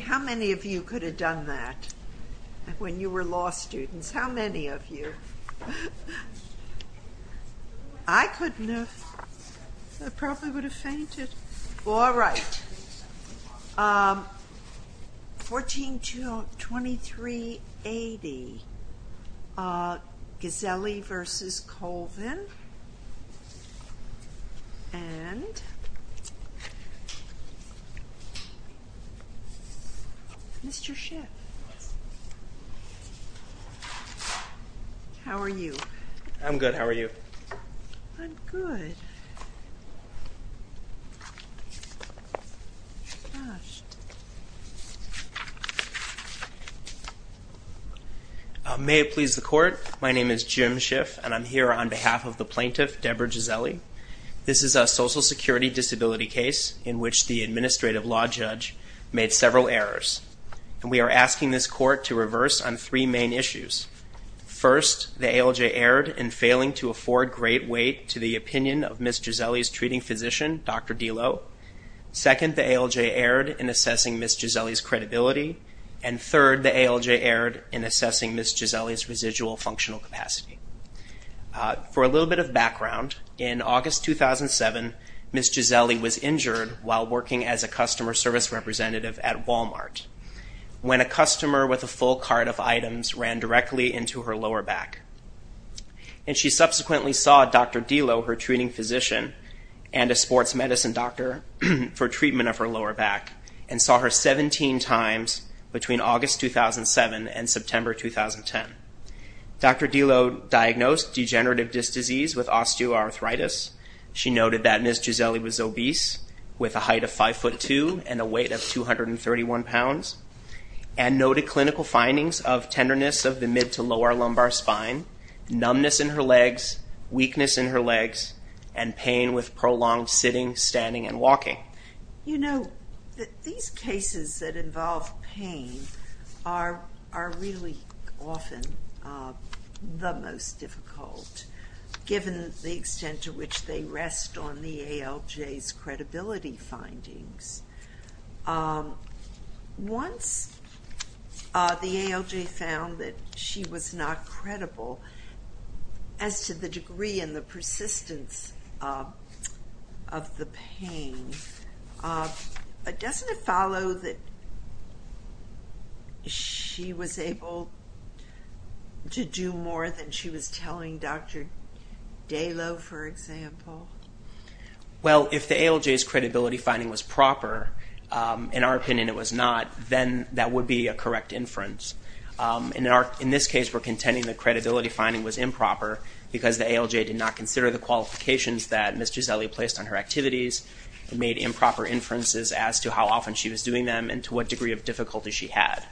How many of you could have done that when you were law students? How many of you? I couldn't have, I probably would have fainted, all right, 142380 Ghiselli v. Colvin and Mr. Schiff. How are you? I'm good. How are you? I'm good. May it please the court. My name is Jim Schiff and I'm here on behalf of the plaintiff, Deborah Ghiselli. This is a social security disability case in which the administrative law judge made several errors. And we are asking this court to reverse on three main issues. First, the ALJ erred in failing to afford great weight to the opinion of Ms. Ghiselli's treating physician, Dr. Delo. Second, the ALJ erred in assessing Ms. Ghiselli's credibility. And third, the ALJ erred in assessing Ms. Ghiselli's residual functional capacity. For a little bit of background, in August 2007, Ms. Ghiselli was injured while working as a customer service representative at Walmart, when a customer with a full cart of items ran directly into her lower back. And she subsequently saw Dr. Delo, her treating physician, and a sports medicine doctor for treatment of her lower back, and saw her 17 times between August 2007 and September 2010. Dr. Delo diagnosed degenerative disc disease with osteoarthritis. She noted that Ms. Ghiselli was obese, with a height of 5'2 and a weight of 231 pounds, and noted clinical findings of tenderness of the mid to lower lumbar spine, numbness in her legs, weakness in her legs, and pain with prolonged sitting, standing, and walking. You know, these cases that involve pain are really often the most difficult, given the extent to which they rest on the ALJ's credibility findings. Once the ALJ found that she was not credible, as to the degree and the persistence of the pain, doesn't it follow that she was able to do more than she was telling Dr. Delo, for example? Well, if the ALJ's credibility finding was proper, in our opinion it was not, then that would be a correct inference. In this case, we're contending the credibility finding was improper because the ALJ did not consider the qualifications that Ms. Ghiselli placed on her activities, and made improper inferences as to how often she was doing them and to what degree of difficulty she had.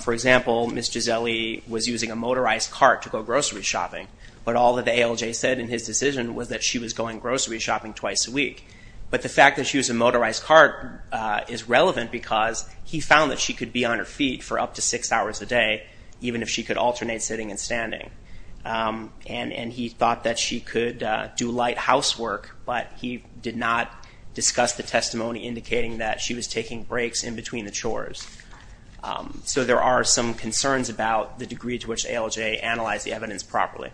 For example, Ms. Ghiselli was using a motorized cart to go grocery shopping, but all that the ALJ said in his decision was that she was going grocery shopping twice a week. But the fact that she was in a motorized cart is relevant because he found that she could be on her feet for up to six hours a day, even if she could alternate sitting and standing. And he thought that she could do light housework, but he did not discuss the testimony indicating So there are some concerns about the degree to which the ALJ analyzed the evidence properly.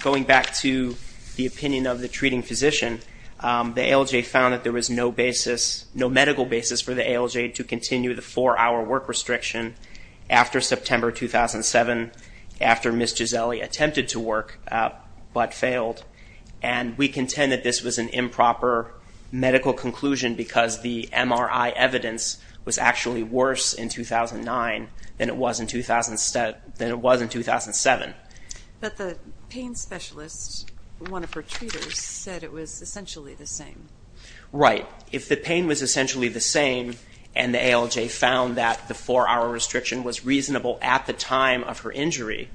Going back to the opinion of the treating physician, the ALJ found that there was no basis, no medical basis for the ALJ to continue the four-hour work restriction after September 2007, after Ms. Ghiselli attempted to work but failed. And we contend that this was an improper medical conclusion because the MRI evidence was actually worse in 2009 than it was in 2007. But the pain specialist, one of her treaters, said it was essentially the same. Right. If the pain was essentially the same and the ALJ found that the four-hour restriction was reasonable at the time of her injury,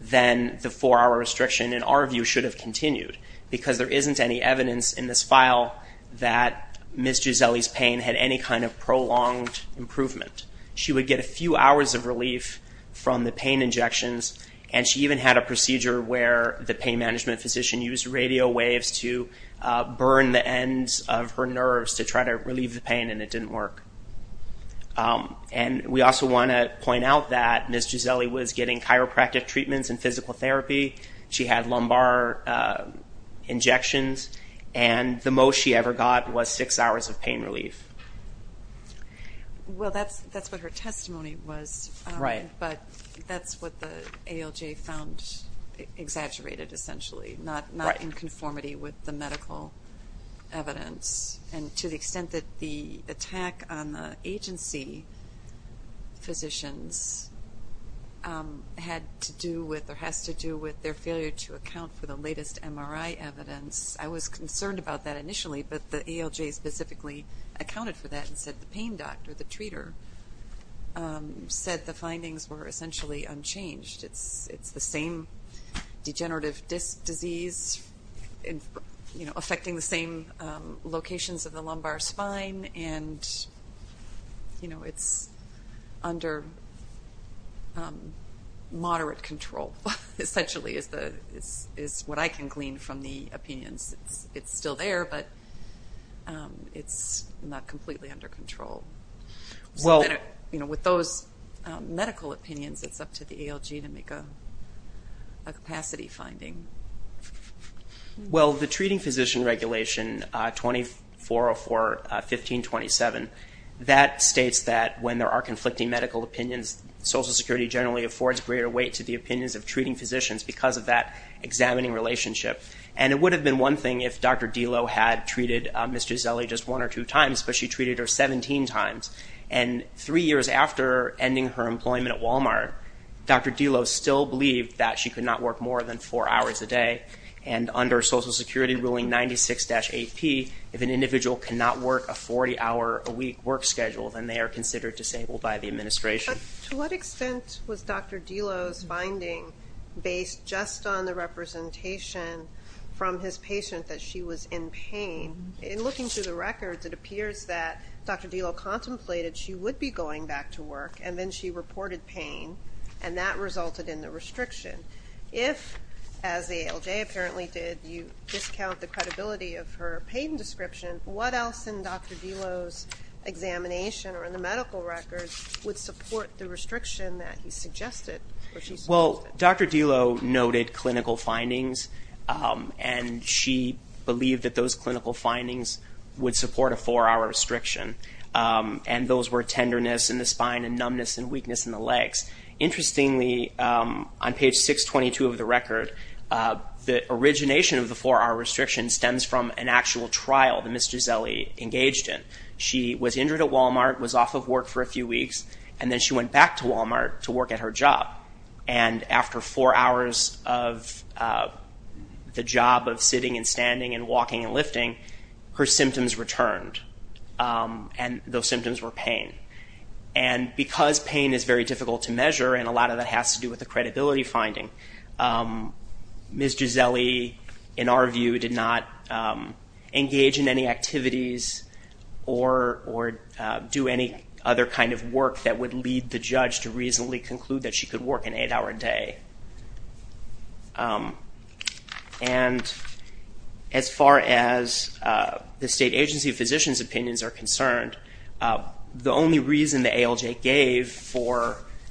then the four-hour restriction, in our view, should have continued because there isn't any evidence in this file that Ms. Ghiselli's pain had any kind of prolonged improvement. She would get a few hours of relief from the pain injections, and she even had a procedure where the pain management physician used radio waves to burn the ends of her nerves to try to relieve the pain, and it didn't work. And we also want to point out that Ms. Ghiselli was getting chiropractic treatments and physical therapy. She had lumbar injections, and the most she ever got was six hours of pain relief. Well that's what her testimony was, but that's what the ALJ found exaggerated, essentially, not in conformity with the medical evidence. And to the extent that the attack on the agency physicians had to do with or has to do with their failure to account for the latest MRI evidence, I was concerned about that initially, but the ALJ specifically accounted for that and said the pain doctor, the treater, said the findings were essentially unchanged. It's the same degenerative disc disease affecting the same locations of the lumbar spine, and it's under moderate control. It's like, essentially, is what I can glean from the opinions. It's still there, but it's not completely under control. With those medical opinions, it's up to the ALJ to make a capacity finding. Well the treating physician regulation, 2404.15.27, that states that when there are conflicting medical opinions, Social Security generally affords greater weight to the opinions of treating physicians because of that examining relationship. And it would have been one thing if Dr. Delo had treated Ms. Gisele just one or two times, but she treated her 17 times. And three years after ending her employment at Walmart, Dr. Delo still believed that she could not work more than four hours a day. And under Social Security ruling 96-8P, if an individual cannot work a 40-hour-a-week work schedule, then they are considered disabled by the administration. To what extent was Dr. Delo's finding based just on the representation from his patient that she was in pain? In looking through the records, it appears that Dr. Delo contemplated she would be going back to work, and then she reported pain, and that resulted in the restriction. If, as the ALJ apparently did, you discount the credibility of her pain description, what else in Dr. Delo's examination or in the medical records would support the restriction that he suggested or she suggested? Well, Dr. Delo noted clinical findings, and she believed that those clinical findings would support a four-hour restriction. And those were tenderness in the spine and numbness and weakness in the legs. Interestingly, on page 622 of the record, the origination of an actual trial that Ms. Gisele engaged in. She was injured at Walmart, was off of work for a few weeks, and then she went back to Walmart to work at her job. And after four hours of the job of sitting and standing and walking and lifting, her symptoms returned. And those symptoms were pain. And because pain is very difficult to measure, and a lot of that has to do with the credibility finding, Ms. Gisele, in our view, did not engage in any activities or do any other kind of work that would lead the judge to reasonably conclude that she could work an eight-hour day. And as far as the state agency physician's opinions are concerned, the only reason the state agency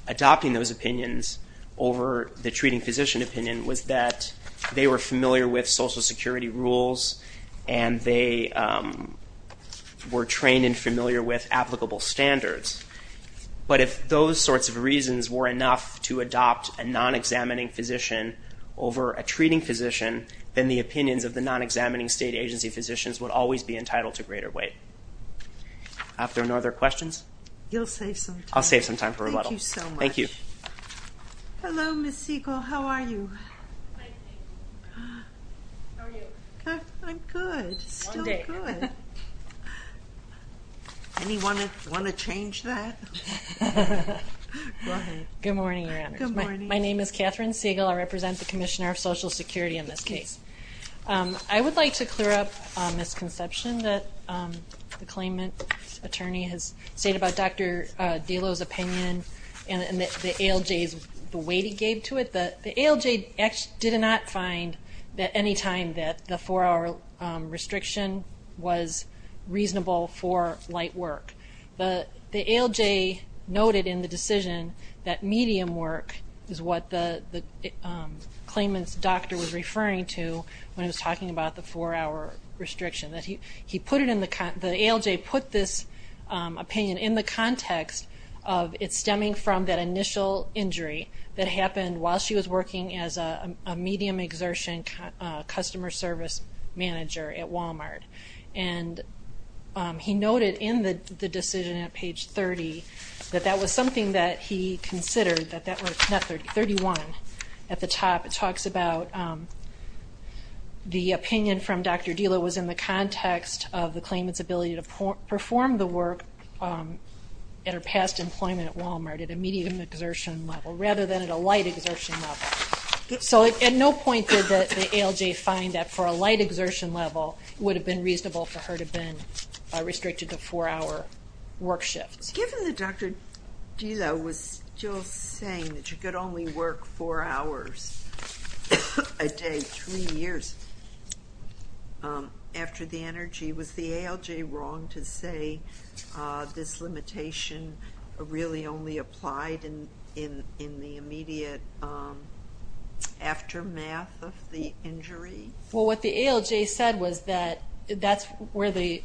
physicians' opinions over the treating physician opinion was that they were familiar with Social Security rules and they were trained and familiar with applicable standards. But if those sorts of reasons were enough to adopt a non-examining physician over a treating physician, then the opinions of the non-examining state agency physicians would always be entitled to greater weight. Do I have any other questions? You'll save some time. I'll save some time for rebuttal. Thank you so much. Thank you. Hello, Ms. Siegel. How are you? Fine, thank you. How are you? I'm good. Still good. One day. Anyone want to change that? Go ahead. Good morning, Your Honors. Good morning. My name is Catherine Siegel. I represent the Commissioner of Social Security in this case. I would like to clear up a misconception that the claimant attorney has stated about Dr. ALJ's weight he gave to it. The ALJ did not find that any time that the four-hour restriction was reasonable for light work. The ALJ noted in the decision that medium work is what the claimant's doctor was referring to when he was talking about the four-hour restriction. The ALJ put this opinion in the context of it stemming from that initial injury that happened while she was working as a medium exertion customer service manager at Walmart. He noted in the decision at page 30 that that was something that he considered, that that was 31 at the top. It talks about the opinion from Dr. Dela was in the context of the claimant's ability to perform the work at her past employment at Walmart at a medium exertion level rather than at a light exertion level. So at no point did the ALJ find that for a light exertion level it would have been reasonable for her to have been restricted to four-hour work shifts. Given that Dr. Dela was still saying that you could only work four hours a day three years after the energy, was the ALJ wrong to say this limitation really only applied in the immediate aftermath of the injury? Well, what the ALJ said was that that's where the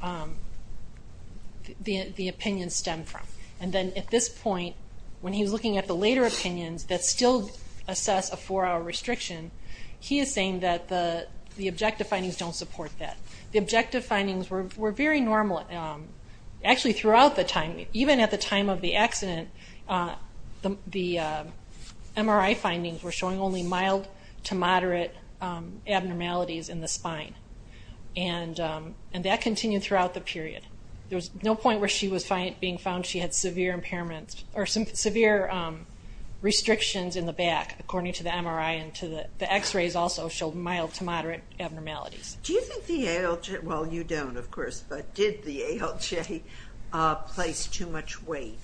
opinion stemmed from. And then at this point, when he was looking at the later opinions that still assess a four-hour restriction, he is saying that the objective findings don't support that. The objective findings were very normal. Actually, throughout the time, even at the time of the accident, the MRI findings were showing only mild to moderate abnormalities in the spine. And that continued throughout the period. There was no point where she was being found she had severe impairments or severe restrictions in the back, according to the MRI and to the X-rays also showed mild to moderate abnormalities. Do you think the ALJ, well, you don't, of course, but did the ALJ place too much weight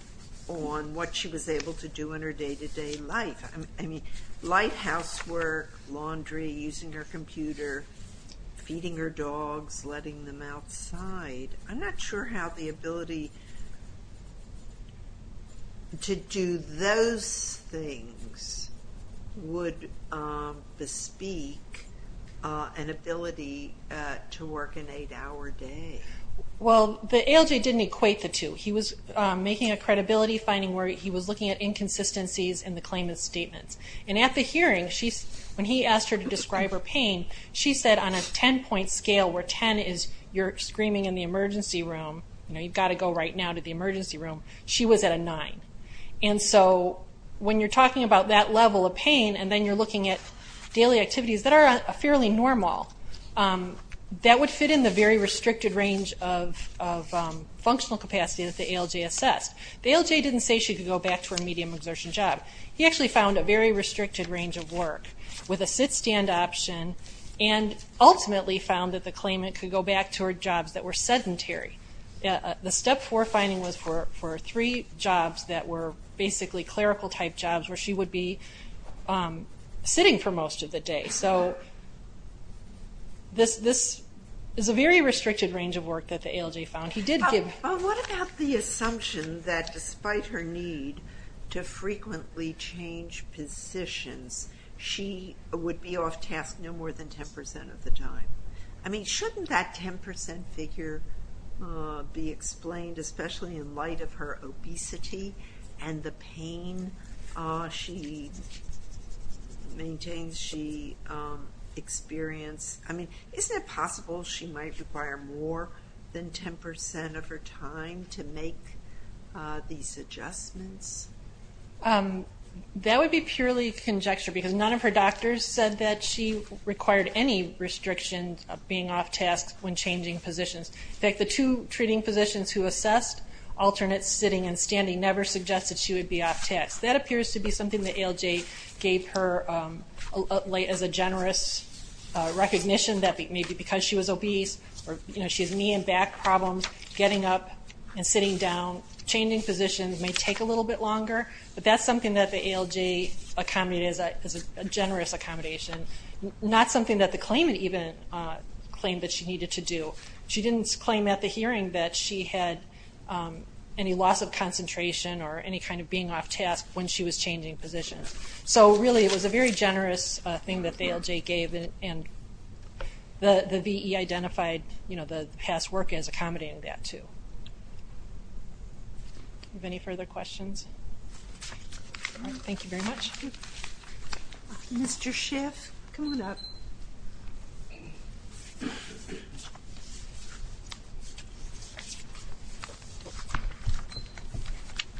on what she was able to do in her day-to-day life? I mean, light housework, laundry, using her computer, feeding her dogs, letting them outside. I'm not sure how the ability to do those things would bespeak an ability to work an eight-hour day. Well, the ALJ didn't equate the two. He was making a credibility finding where he was looking at inconsistencies in the claimant's statements. And at the hearing, when he asked her to describe her pain, she said on a 10-point scale, where 10 is you're screaming in the So, when you're talking about that level of pain and then you're looking at daily activities that are fairly normal, that would fit in the very restricted range of functional capacity that the ALJ assessed. The ALJ didn't say she could go back to her medium exertion job. He actually found a very restricted range of work with a sit-stand option and ultimately found that the claimant could go back to her jobs that were sedentary. The step four finding was for three jobs that were basically clerical type jobs where she would be sitting for most of the day. So, this is a very restricted range of work that the ALJ found. What about the assumption that despite her need to frequently change positions, she would be off-task no more than 10% of the time? I mean, shouldn't that 10% figure be explained especially in light of her obesity and the pain she maintains she experienced? I mean, isn't it possible she might require more than 10% of her time to make these adjustments? That would be purely conjecture because none of her doctors said that she required any restrictions of being off-task when changing positions. In fact, the two treating physicians who assessed alternate sitting and standing never suggested she would be off-task. That appears to be something the ALJ gave her as a generous recognition that maybe because she was obese or she has knee and back problems, getting up and sitting down, changing positions may take a little bit longer, but that's something that the ALJ accommodated as a generous accommodation. Not something that the claimant even claimed that she needed to do. She didn't claim at the hearing that she had any loss of concentration or any kind of being off-task when she was changing positions. So really, it was a very generous thing that the ALJ gave and the V.E. identified the past work as accommodating that too. Do we have any further questions? Thank you very much. Mr. Schiff, come on up.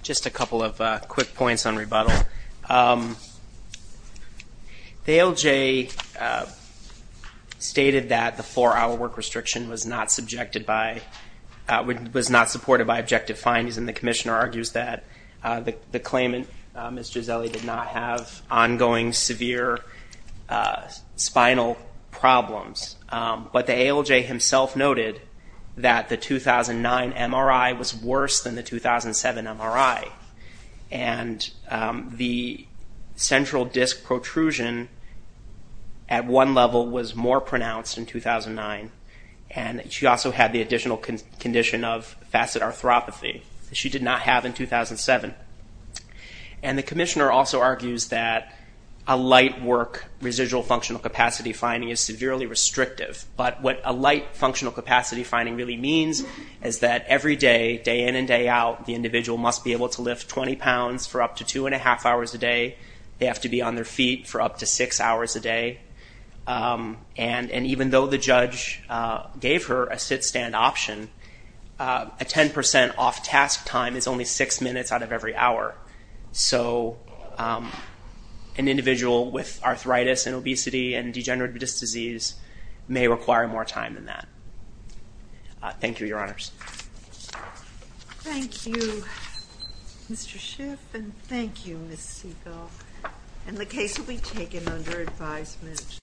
Just a couple of quick points on rebuttal. The ALJ stated that the four-hour work restriction was not subjected by, was not supported by objective findings and the Commissioner argues that the claimant, Ms. Gisele, did not have ongoing severe spinal problems. But the ALJ himself noted that the 2009 MRI was worse than the 2007 MRI and the central disc protrusion at one level was more pronounced in 2009 and she also had the additional condition of facet arthropathy that she did not have in 2007. And the Commissioner also argues that a light work residual functional capacity finding is severely restrictive. But what a light functional capacity finding really means is that every day, day in and day out, the individual must be able to lift 20 pounds for up to two and a half hours a day. They have to be on their feet for up to six hours a day. And even though the judge gave her a sit-stand option, a 10% off-task time is only six minutes out of every hour. So an individual with arthritis and obesity and degenerative disease may require more time than that. Thank you, Your Honors. Thank you, Mr. Schiff, and thank you, Ms. Segal. And the case will be taken under advisement.